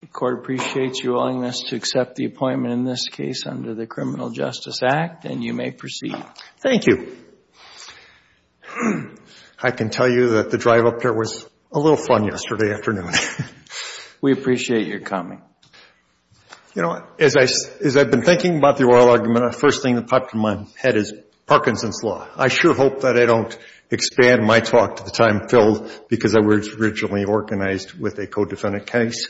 The Court appreciates your willingness to accept the appointment in this case under the Criminal Justice Act, and you may proceed. Thank you. I can tell you that the drive up there was a little fun yesterday afternoon. We appreciate your coming. You know, as I've been thinking about the oral argument, the first thing that popped in my head is Parkinson's Law. I sure hope that I don't expand my talk to the time filled because I was originally organized with a co-defendant case.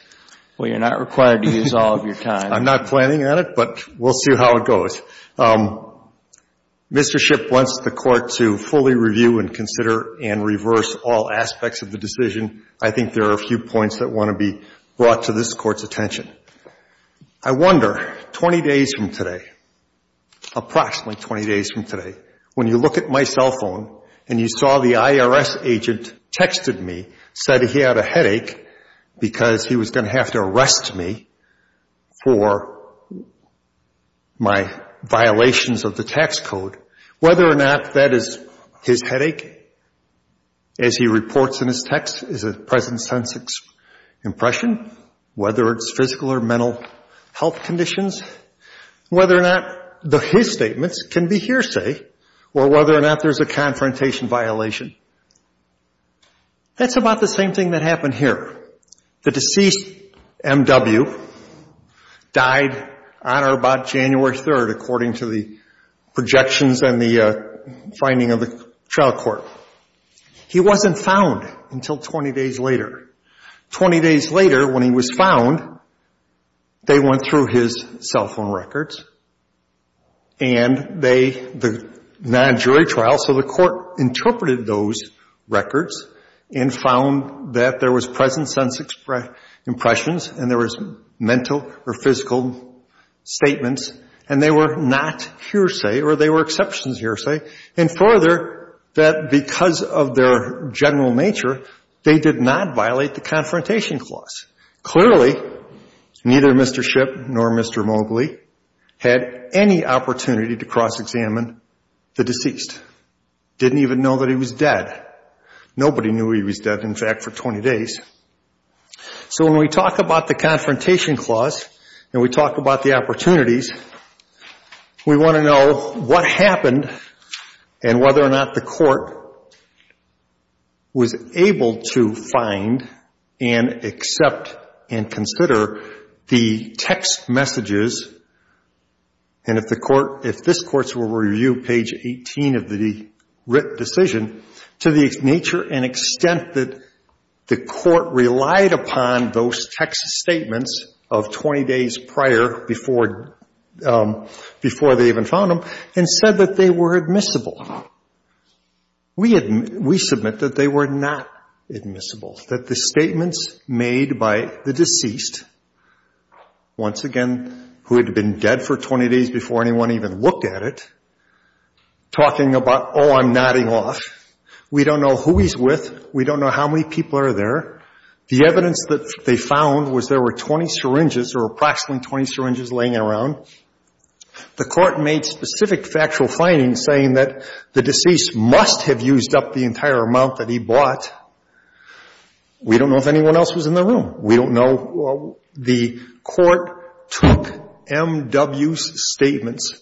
Well, you're not required to use all of your time. I'm not planning on it, but we'll see how it goes. Mr. Shipp wants the Court to fully review and consider and reverse all aspects of the decision. I think there are a few points that want to be brought to this Court's attention. I wonder, 20 days from today, approximately 20 days from today, when you look at my cell going to have to arrest me for my violations of the tax code, whether or not that is his headache, as he reports in his text, is it present sense impression, whether it's physical or mental health conditions, whether or not his statements can be hearsay, or whether or not there's a confrontation violation. That's about the same thing that happened here. The deceased, M.W., died on or about January 3rd, according to the projections and the finding of the trial court. He wasn't found until 20 days later. Twenty days later, when he was found, they went through his cell records and found that there was present sense impressions and there was mental or physical statements and they were not hearsay or they were exceptions hearsay, and further, that because of their general nature, they did not violate the confrontation clause. Clearly, neither Mr. Shipp nor Mr. Mobley had any opportunity to cross-examine the deceased. Didn't even know that he was dead. Nobody knew he was dead, in fact, for 20 days. So when we talk about the confrontation clause and we talk about the opportunities, we want to know what happened and whether or not the court was able to find and accept and consider the text messages, and if the court, if this court's review, page 18 of the writ decision, to the nature and extent that the court relied upon those text statements of 20 days prior before they even found him and said that they were admissible. We submit that they were not admissible, that the statements made by the deceased, once again, who had been dead for 20 days before anyone even looked at it, talking about, oh, I'm nodding off. We don't know who he's with. We don't know how many people are there. The evidence that they found was there were 20 syringes or approximately 20 syringes laying around. The court made specific factual findings saying that the deceased must have used up the entire amount that he bought. We don't know if anyone else was in the room. We don't know. The court took M. W.'s statements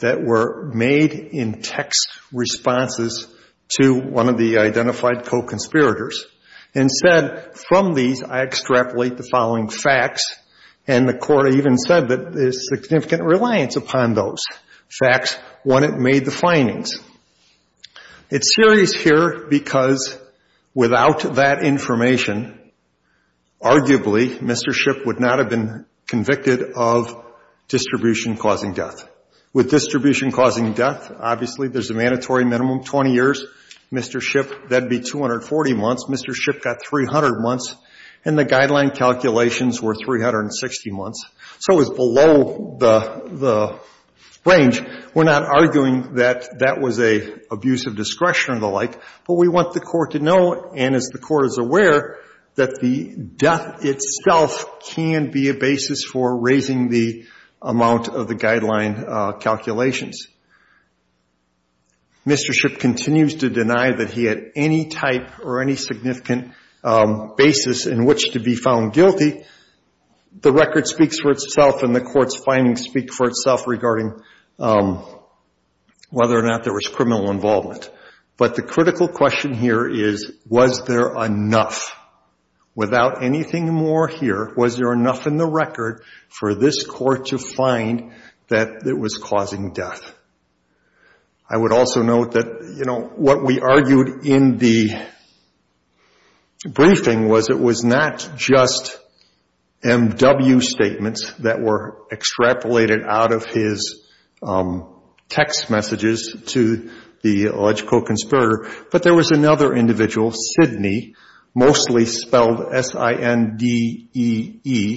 that were made in text responses to one of the identified co-conspirators and said, from these, I extrapolate the following facts, and the court even said that there's significant reliance upon those facts when it made the findings. It's serious here because without that information, arguably, Mr. Shipp would not have been convicted of distribution causing death. With distribution causing death, obviously, there's a mandatory minimum, 20 years. Mr. Shipp, that would be 240 months. Mr. Shipp got 300 months, and the guideline calculations were 360 months. So it was below the range. We're not arguing that that was an abuse of discretion or the like, but we want the court to know, and as the court is aware, that the death itself can be a basis for raising the amount of the guideline calculations. Mr. Shipp continues to deny that he had any type or any significant basis in which to be found guilty. The record speaks for itself, and the court's findings speak for itself regarding whether or not there was criminal involvement. But the critical question here is, was there enough? Without anything more here, was there enough in the record for this court to find that it was causing death? I would also note that what we argued in the briefing was it was not just MW statements that were extrapolated from his text messages to the alleged co-conspirator, but there was another individual, Sidney, mostly spelled S-I-N-D-E-E,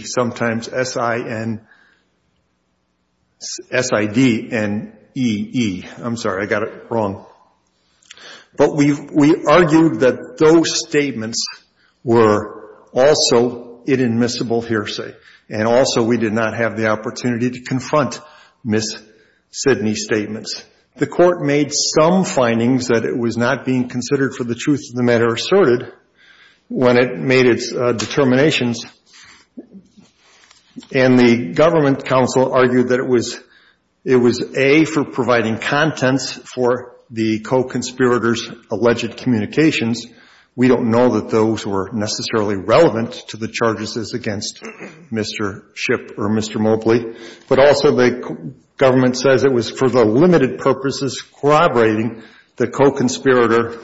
sometimes S-I-N-S-I-D-N-E-E. I'm sorry, I got it wrong. But we argued that those statements were also inadmissible hearsay, and also we did not have the opportunity to confront Ms. Sidney's statements. The court made some findings that it was not being considered for the truth of the matter asserted when it made its determinations, and the government counsel argued that it was A, for providing contents for the co-conspirators' alleged communications. We don't know that those were necessarily relevant to the charges as against Mr. Shipp or Mr. Mobley, but also the government says it was for the limited purposes corroborating the co-conspirator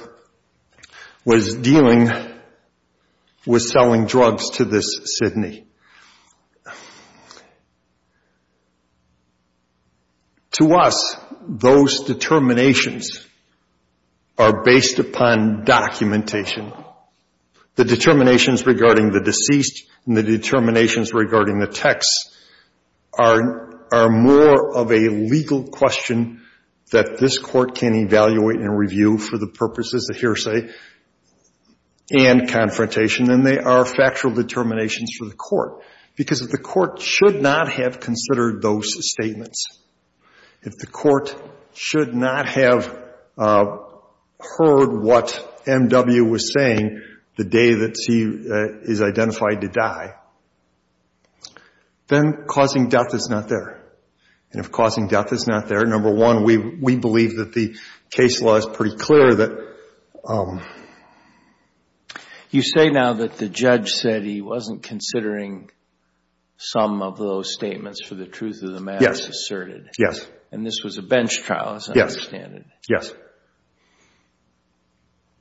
was dealing with selling drugs to this Sidney. To us, those determinations are based upon documentation. The determinations regarding the deceased and the determinations regarding the texts are more of a legal question that this court can evaluate and review for the purposes of hearsay and confrontation than they are factual determinations for the court, because the court should not have considered those statements. If the court should not have heard what M.W. was saying the day that he is identified to die, then causing death is not there. If causing death is not there, number one, we believe that the case law is pretty clear that... You say now that the judge said he wasn't considering some of those statements for the truth of the matter asserted, and this was a bench trial, as I understand it. Yes.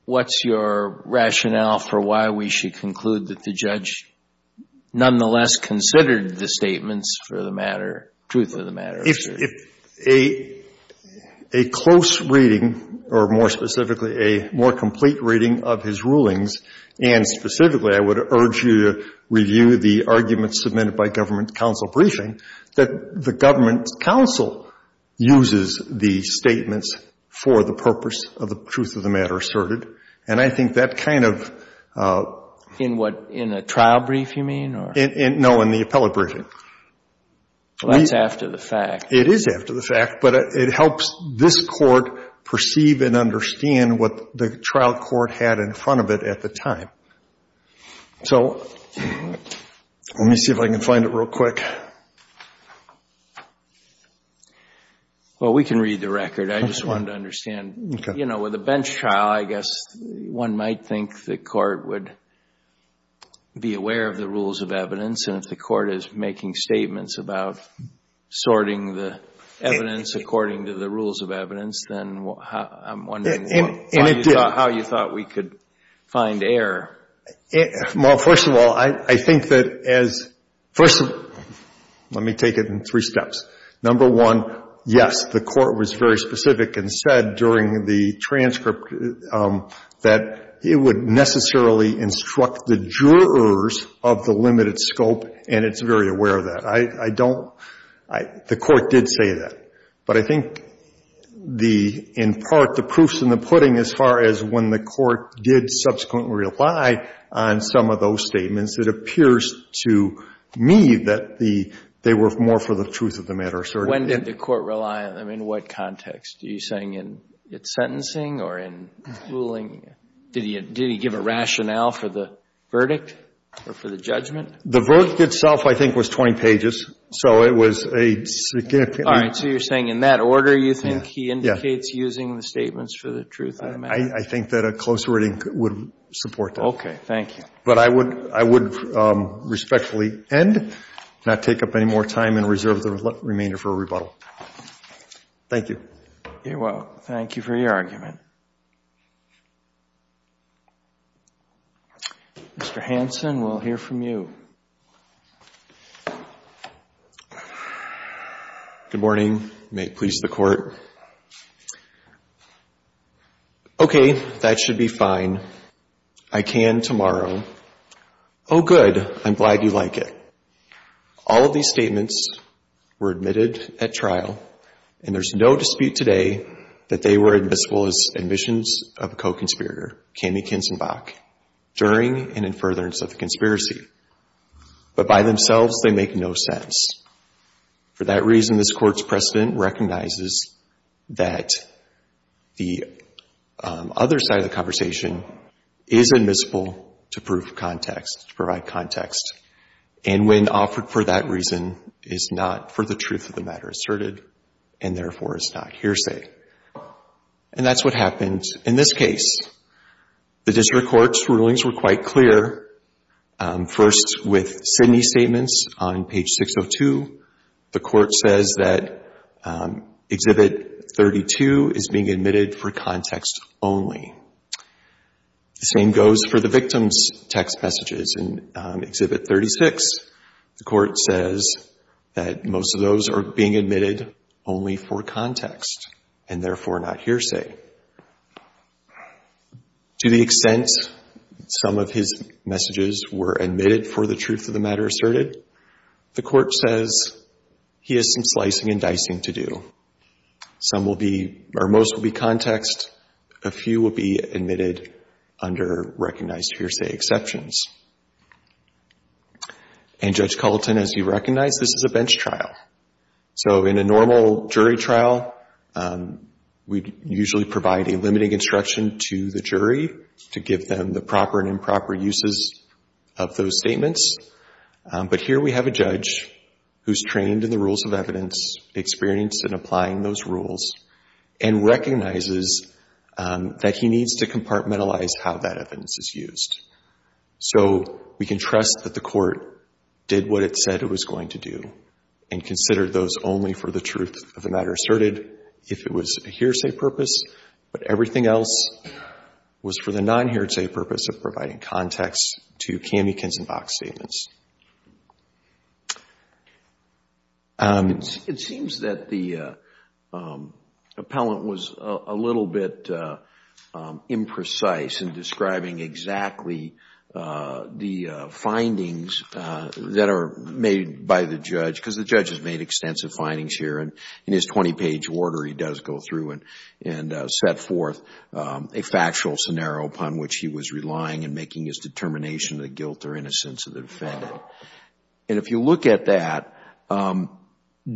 What's your rationale for why we should conclude that the judge nonetheless considered the statements for the matter, truth of the matter? A close reading, or more specifically, a more complete reading of his rulings, and specifically I would urge you to review the arguments submitted by government counsel briefing, that the government counsel uses the statements for the purpose of the truth of the matter asserted, and I think that kind of... In what, in a trial brief, you mean? No, in the appellate briefing. That's after the fact. It is after the fact, but it helps this court perceive and understand what the trial court had in front of it at the time. So let me see if I can find it real quick. Well, we can read the record. I just wanted to understand, you know, with a bench trial, I guess one might think the court would be aware of the rules of evidence, and if the court is making statements about sorting the evidence according to the rules of evidence, then I'm wondering how you thought we could find error. Well, first of all, I think that as... First of all, let me take it in three steps. Number one, yes, the court was very specific and said during the transcript that it would necessarily instruct the jurors of the limited scope, and it's very aware of that. I don't... The court did say that, but I think the... In part, the proof's in the pudding as far as when the court did subsequently rely on some of those statements. It appears to me that they were more for the truth of the matter, so... When did the court rely on them? In what context? Are you saying in its sentencing or in ruling? Did he give a rationale for the verdict or for the judgment? The verdict itself, I think, was 20 pages, so it was a... All right. So you're saying in that order you think he indicates using the statements for the truth of the matter? I think that a closer reading would support that. Okay. Thank you. But I would respectfully end, not take up any more time, and reserve the remainder for a rebuttal. Thank you. You're welcome. Thank you for your argument. Mr. Hanson, we'll hear from you. Good morning. May it please the court. Okay. That should be fine. I can tomorrow. Oh, good. I'm glad you like it. All of these statements were admitted at trial, and there's no dispute today that they were admissible as admissions of a co-conspirator, Kami Kinzenbach, during and in furtherance of the conspiracy. But by themselves, they make no sense. For that reason, this Court's precedent recognizes that the other side of the conversation is admissible to prove context, to provide context, and when offered for that reason is not for the truth of the matter asserted, and therefore is not hearsay. And that's what happened in this case. The District Court's rulings were quite clear. First with Sidney's statements on page 602, the Court says that Exhibit 32 is being admitted for context only. The same goes for the victim's text messages in Exhibit 36. The Court says that most of those are being admitted only for context, and therefore not hearsay. To the extent some of his messages were admitted for the truth of the matter asserted, the Court says he has some slicing and dicing to do. Some will be, or most will be context, a few will be admitted under recognized hearsay exceptions. And Judge Culleton, as you recognize, this is a bench trial. So in a normal jury trial, we usually provide a limiting instruction to the jury to give them the proper and improper uses of those statements. But here we have a judge who's trained in the rules of evidence, experienced in applying those rules, and recognizes that he needs to compartmentalize how that evidence is used. So we can trust that the Court did what it said it was going to do and considered those only for the truth of the matter asserted if it was a hearsay purpose, but everything else was for the non-hearsay purpose of providing context to Kami Kinsenbach's statements. It seems that the appellant was a little bit imprecise in describing exactly the findings that are made by the judge, because the judge has made extensive findings here. In his 20-page order, he does go through and set forth a factual scenario upon which he was relying in making his determination of the guilt or innocence of the defendant. And if you look at that,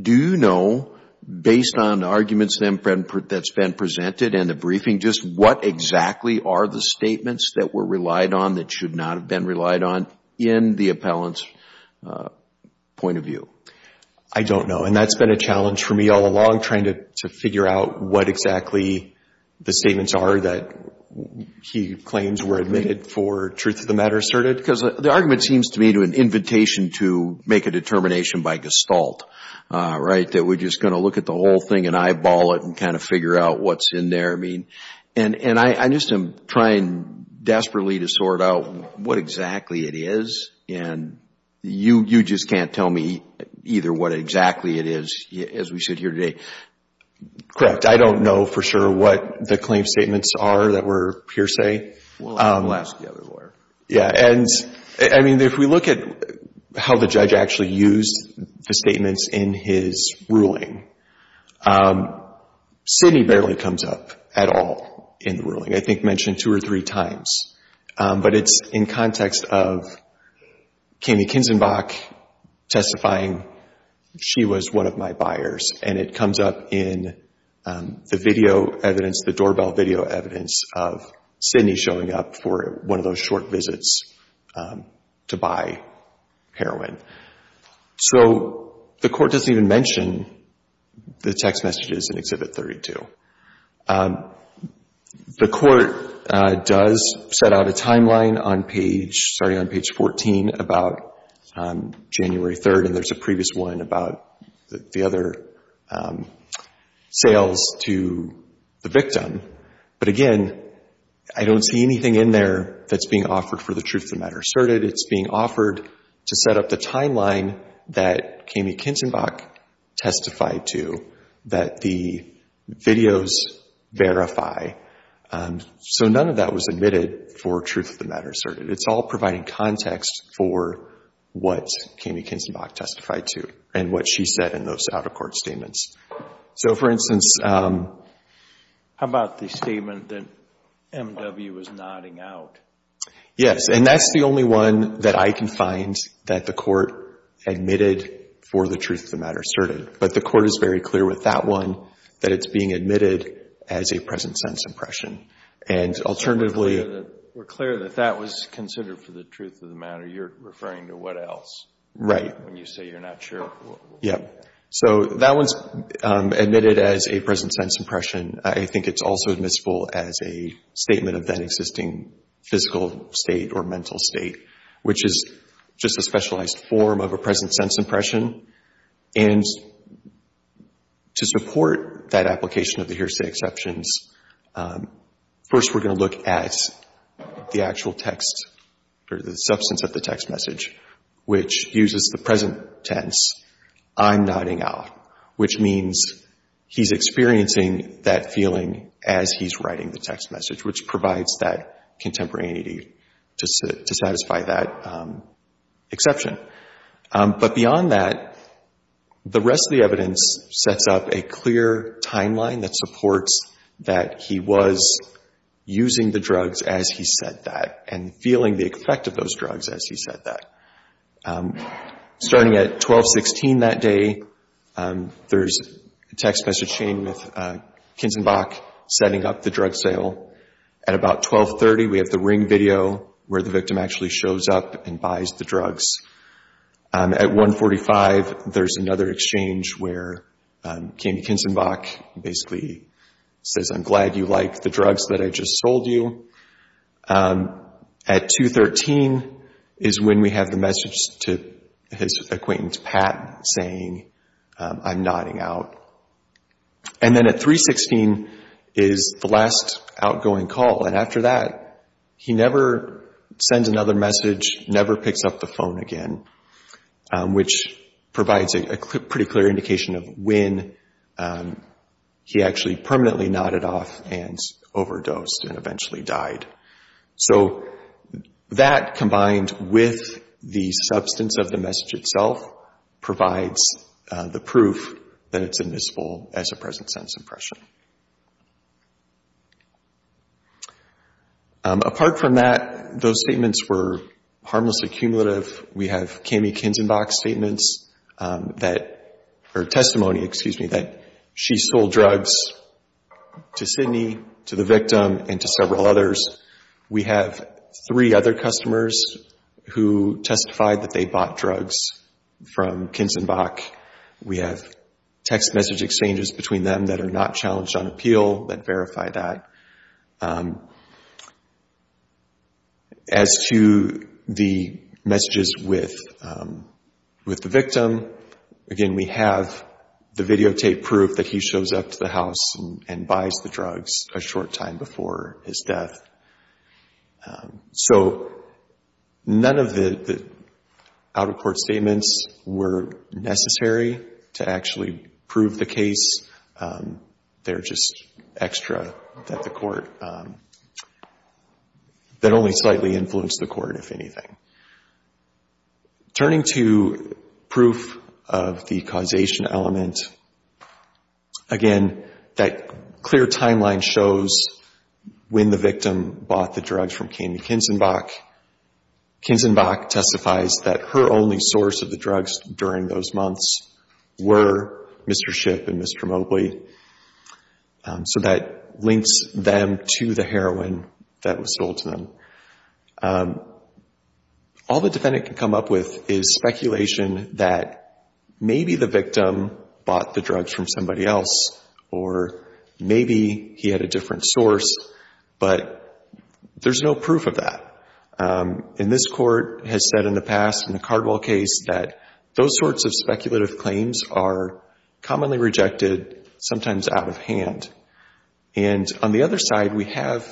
do you know, based on the arguments that's been presented and the briefing, just what exactly are the statements that were relied on that should not have been relied on in the appellant's point of view? I don't know. And that's been a challenge for me all along, trying to figure out what exactly the statements are that he claims were admitted for truth of the matter asserted. Because the argument seems to me to an invitation to make a determination by gestalt, right? That we're just going to look at the whole thing and eyeball it and kind of figure out what's in there. And I'm just trying desperately to sort out what exactly it is, and you just can't tell me either what exactly it is, as we sit here today. Correct. I don't know for sure what the claim statements are that were per se. We'll ask the other lawyer. Yeah. And if we look at how the judge actually used the statements in his ruling, Sidney barely comes up at all in the ruling. I think mentioned two or three times. But it's in context of Kami Kinzenbach testifying, she was one of my buyers. And it comes up in the video evidence, the doorbell video evidence of Sidney showing up for one of those short visits to buy heroin. So the court doesn't even mention the text messages in Exhibit 32. The court does set out a timeline on page, sorry, on page 14 about January 3rd, and there's a previous one about the other sales to the victim. But again, I don't see anything in there that's being offered for the truth of the matter asserted. It's being offered to set up the timeline that Kami Kinzenbach testified to that the videos verify. So none of that was admitted for truth of the matter asserted. It's all providing context for what Kami Kinzenbach testified to and what she said in those out-of-court statements. So for instance... How about the statement that M.W. was nodding out? Yes. And that's the only one that I can find that the court admitted for the truth of the matter asserted. But the court is very clear with that one that it's being admitted as a present sense impression. And alternatively... We're clear that that was considered for the truth of the matter. You're referring to what else? Right. When you say you're not sure. Yeah. So that one's admitted as a present sense impression. I think it's also admissible as a statement of that existing physical state or mental state, which is just a specialized form of a present sense impression. And to support that application of the hearsay exceptions, first we're going to look at the actual text or the substance of the text message, which uses the present tense, I'm nodding out, which means he's experiencing that feeling as he's writing the text message, which provides that contemporaneity to satisfy that exception. But beyond that, the rest of the evidence sets up a clear timeline that supports that he was using the drugs as he said that and feeling the effect of those drugs as he said that. Starting at 1216 that day, there's a text message seen with Kinzenbach setting up the drug sale. At about 1230, we have the ring video where the victim actually shows up and buys the drugs. At 145, there's another exchange where Kim Kinzenbach basically says I'm glad you like the drugs that I just sold you. At 213 is when we have the message to his acquaintance, Pat, saying I'm nodding out. And then at 316 is the text message that is the last outgoing call. And after that, he never sends another message, never picks up the phone again, which provides a pretty clear indication of when he actually permanently nodded off and overdosed and eventually died. So that combined with the substance of the message itself provides the proof that it's admissible as a present sense impression. Apart from that, those statements were harmlessly cumulative. We have Kim Kinzenbach's testimony that she sold drugs to Sidney, to the victim, and to several others. We have three other customers who testified that they bought drugs from Kinzenbach. We have text message exchanges between them that are not challenged on appeal that verify that. As to the messages with the victim, again, we have the videotape proof that he shows up to the house and buys the drugs a short time before his death. So none of the out-of-court statements were necessary to actually prove the case. They're just extra that only slightly influenced the court, if anything. Turning to proof of the causation element, again, that clear timeline shows when the source of the drugs during those months were Mr. Shipp and Mr. Mobley. So that links them to the heroin that was sold to them. All the defendant can come up with is speculation that maybe the victim bought the drugs from somebody else, or maybe he had a different source, but there's no proof of that. And this court has said in the past, in the Cardwell case, that those sorts of speculative claims are commonly rejected, sometimes out of hand. And on the other side, we have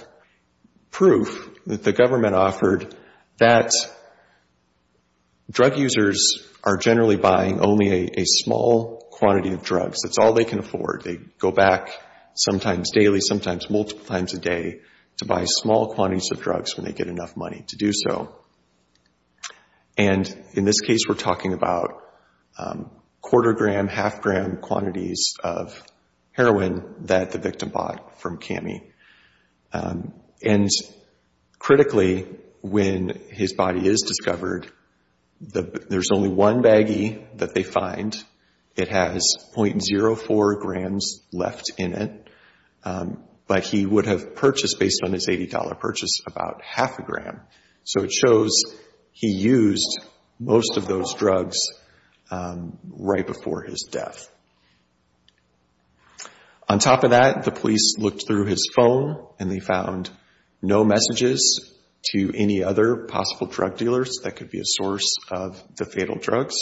proof that the government offered that drug users are generally buying only a small quantity of drugs. That's all they can afford. They go back sometimes daily, sometimes multiple times a day, to buy small quantities of drugs when they get enough money to do so. And in this case, we're talking about quarter-gram, half-gram quantities of heroin that the victim bought from Cammie. And critically, when his body is discovered, there's only one baggie that they find. It has 0.04 grams left in it, but he would have purchased, based on his $80 purchase, about half a gram. So it shows he used most of those drugs right before his death. On top of that, the police looked through his phone and they found no messages to any other possible drug dealers that could be a source of the fatal drugs.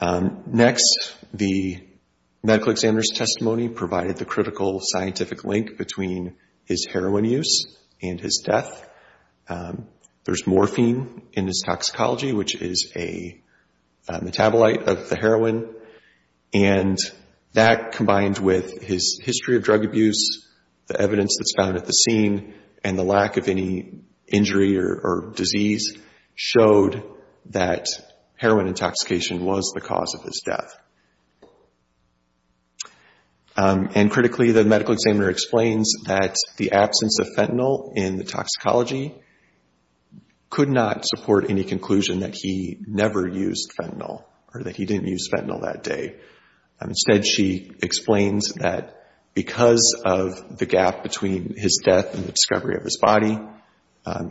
Next, the medical examiner's testimony provided the critical scientific link between his heroin use and his death. There's morphine in his toxicology, which is a metabolite of the heroin. And that, combined with his history of drug abuse, the evidence that's found at the scene, and the lack of any injury or disease, showed that heroin intoxication was the cause of his death. And critically, the medical examiner explains that the absence of fentanyl in the toxicology could not support any conclusion that he never used fentanyl, or that he didn't use fentanyl that day. Instead, she explains that because of the gap between his death and the discovery of his body,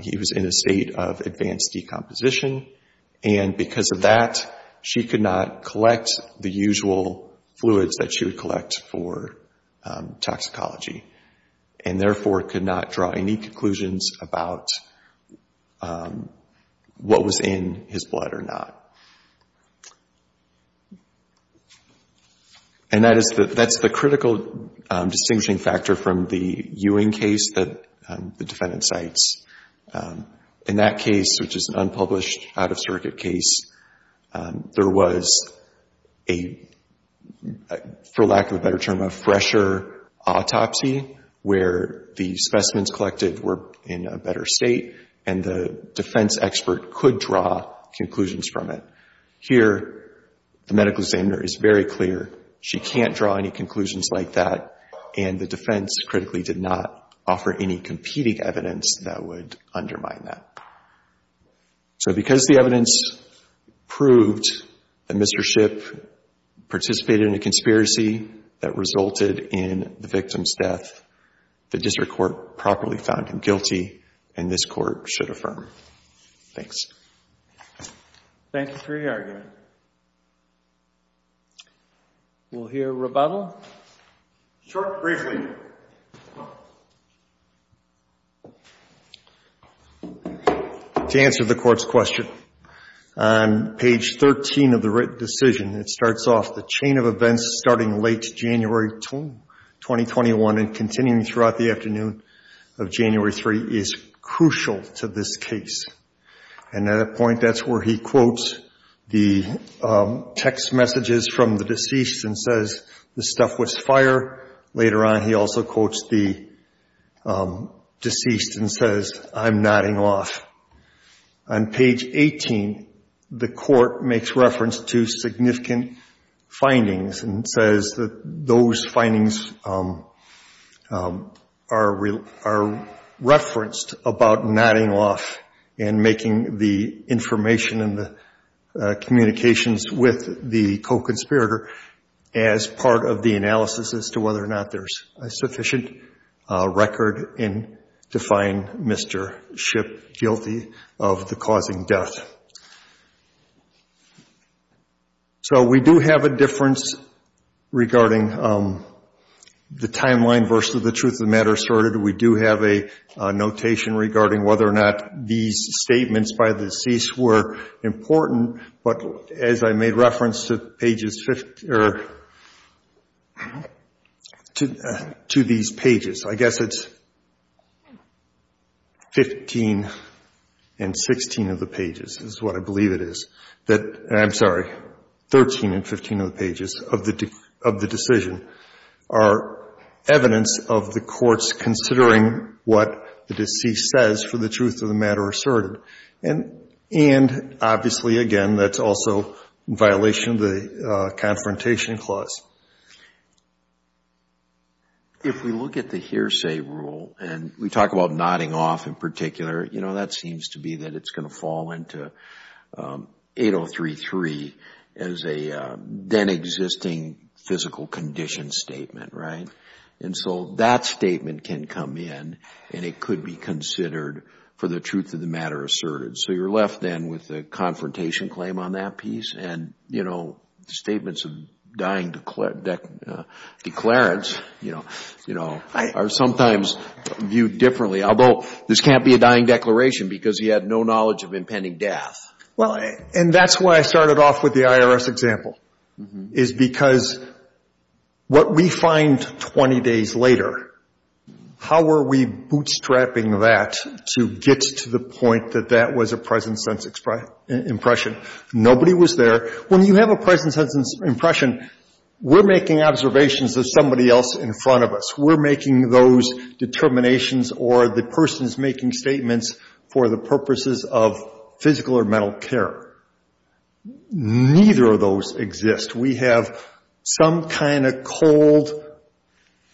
he was in a state of advanced decomposition. And because of that, she could not collect the usual fluids that she would collect for toxicology, and therefore could not draw any conclusions about what was in his blood or not. And that's the critical distinguishing factor from the Ewing case that the defendant cites. In that case, which is an unpublished, out-of-circuit case, there was a, for lack of a better term, a fresher autopsy, where the specimens collected were in a better state, and the defense expert could draw conclusions from it. Here, the medical examiner is very clear. She can't draw any conclusions like that, and the defense, critically, did not offer any competing evidence that would undermine that. So because the evidence proved that Mr. Shipp participated in a conspiracy that resulted in the victim's death, the district court properly found him guilty, and this court should affirm. Thanks. Thank you for your argument. We'll hear rebuttal. Short, briefly. To answer the Court's question, on page 13 of the written decision, it starts off, The chain of events starting late January 2021 and continuing throughout the afternoon of January 3 is crucial to this case. And at a point, that's where he quotes the text messages from the deceased and says, The stuff was fire. Later on, he also quotes the deceased and says, I'm nodding off. On page 18, the Court makes reference to significant findings and says that those findings are referenced about nodding off and making the information and the communications with the co-conspirator as part of the analysis as to whether or not there's a sufficient record in to find Mr. Shipp guilty of the causing death. So, we do have a difference regarding the timeline versus the truth of the matter asserted. We do have a notation regarding whether or not these statements by the deceased were important, but as I made reference to these pages, I guess it's 15 and 16 of the pages. That's what I believe it is. I'm sorry, 13 and 15 of the pages of the decision are evidence of the Court's considering what the deceased says for the truth of the matter asserted. And obviously, again, that's also a violation of the Confrontation Clause. If we look at the hearsay rule and we talk about nodding off in particular, that seems to be that it's going to fall into 8033 as a then existing physical condition statement. That statement can come in and it could be considered for the truth of the matter asserted. So, you're left then with a confrontation claim on that piece and the statements of dying declarants are sometimes viewed differently. Although, this can't be a dying declaration because he had no knowledge of impending death. Well, and that's why I started off with the IRS example, is because what we find 20 days later, how are we bootstrapping that to get to the point that that was a present-sense impression? Nobody was there. When you have a present-sense impression, we're making observations of somebody else in front of us. We're making those determinations or the person's making statements for the purposes of physical or mental care. Neither of those exist. We have some kind of cold,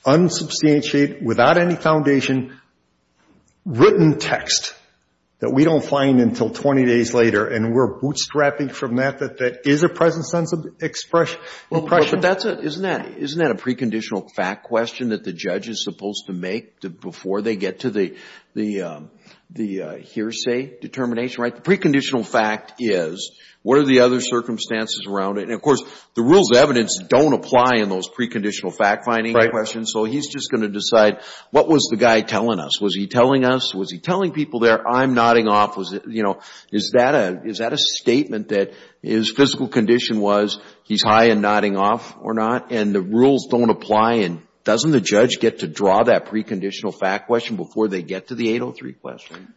unsubstantiated, without any foundation, written text that we don't find until 20 days later and we're bootstrapping from that, that that is a present-sense impression. Well, but isn't that a preconditional fact question that the judge is supposed to make before they get to the hearsay determination? The preconditional fact is, what are the other circumstances around it? And of course, the rules of evidence don't apply in those preconditional fact finding questions, so he's just going to decide, what was the guy telling us? Was he telling us? Was he telling people there, I'm nodding off? Is that a statement that his physical condition was, he's high and nodding off or not? And the rules don't apply and doesn't the judge get to draw that preconditional fact question before they get to the 803 question?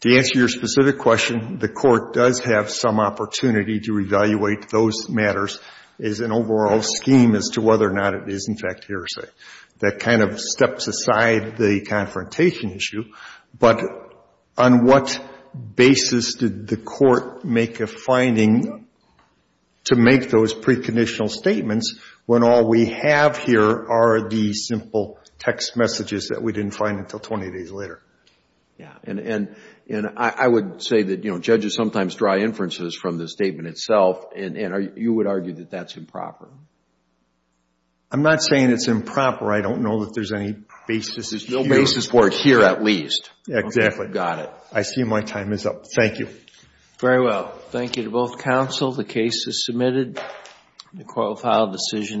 To answer your specific question, the court does have some opportunity to evaluate those matters as an overall scheme as to whether or not it is, in fact, hearsay. That kind of steps aside the confrontation issue, but on what basis did the court make a finding to make those preconditional statements when all we have here are the simple text messages that we didn't find until 20 days later? And I would say that judges sometimes draw inferences from the statement itself and you would argue that that's improper. I'm not saying it's improper. I don't know that there's any basis here. No basis for it here at least. Exactly. Okay, got it. I see my time is up. Thank you. Very well. Thank you to both counsel. The case is submitted. The court will file decision in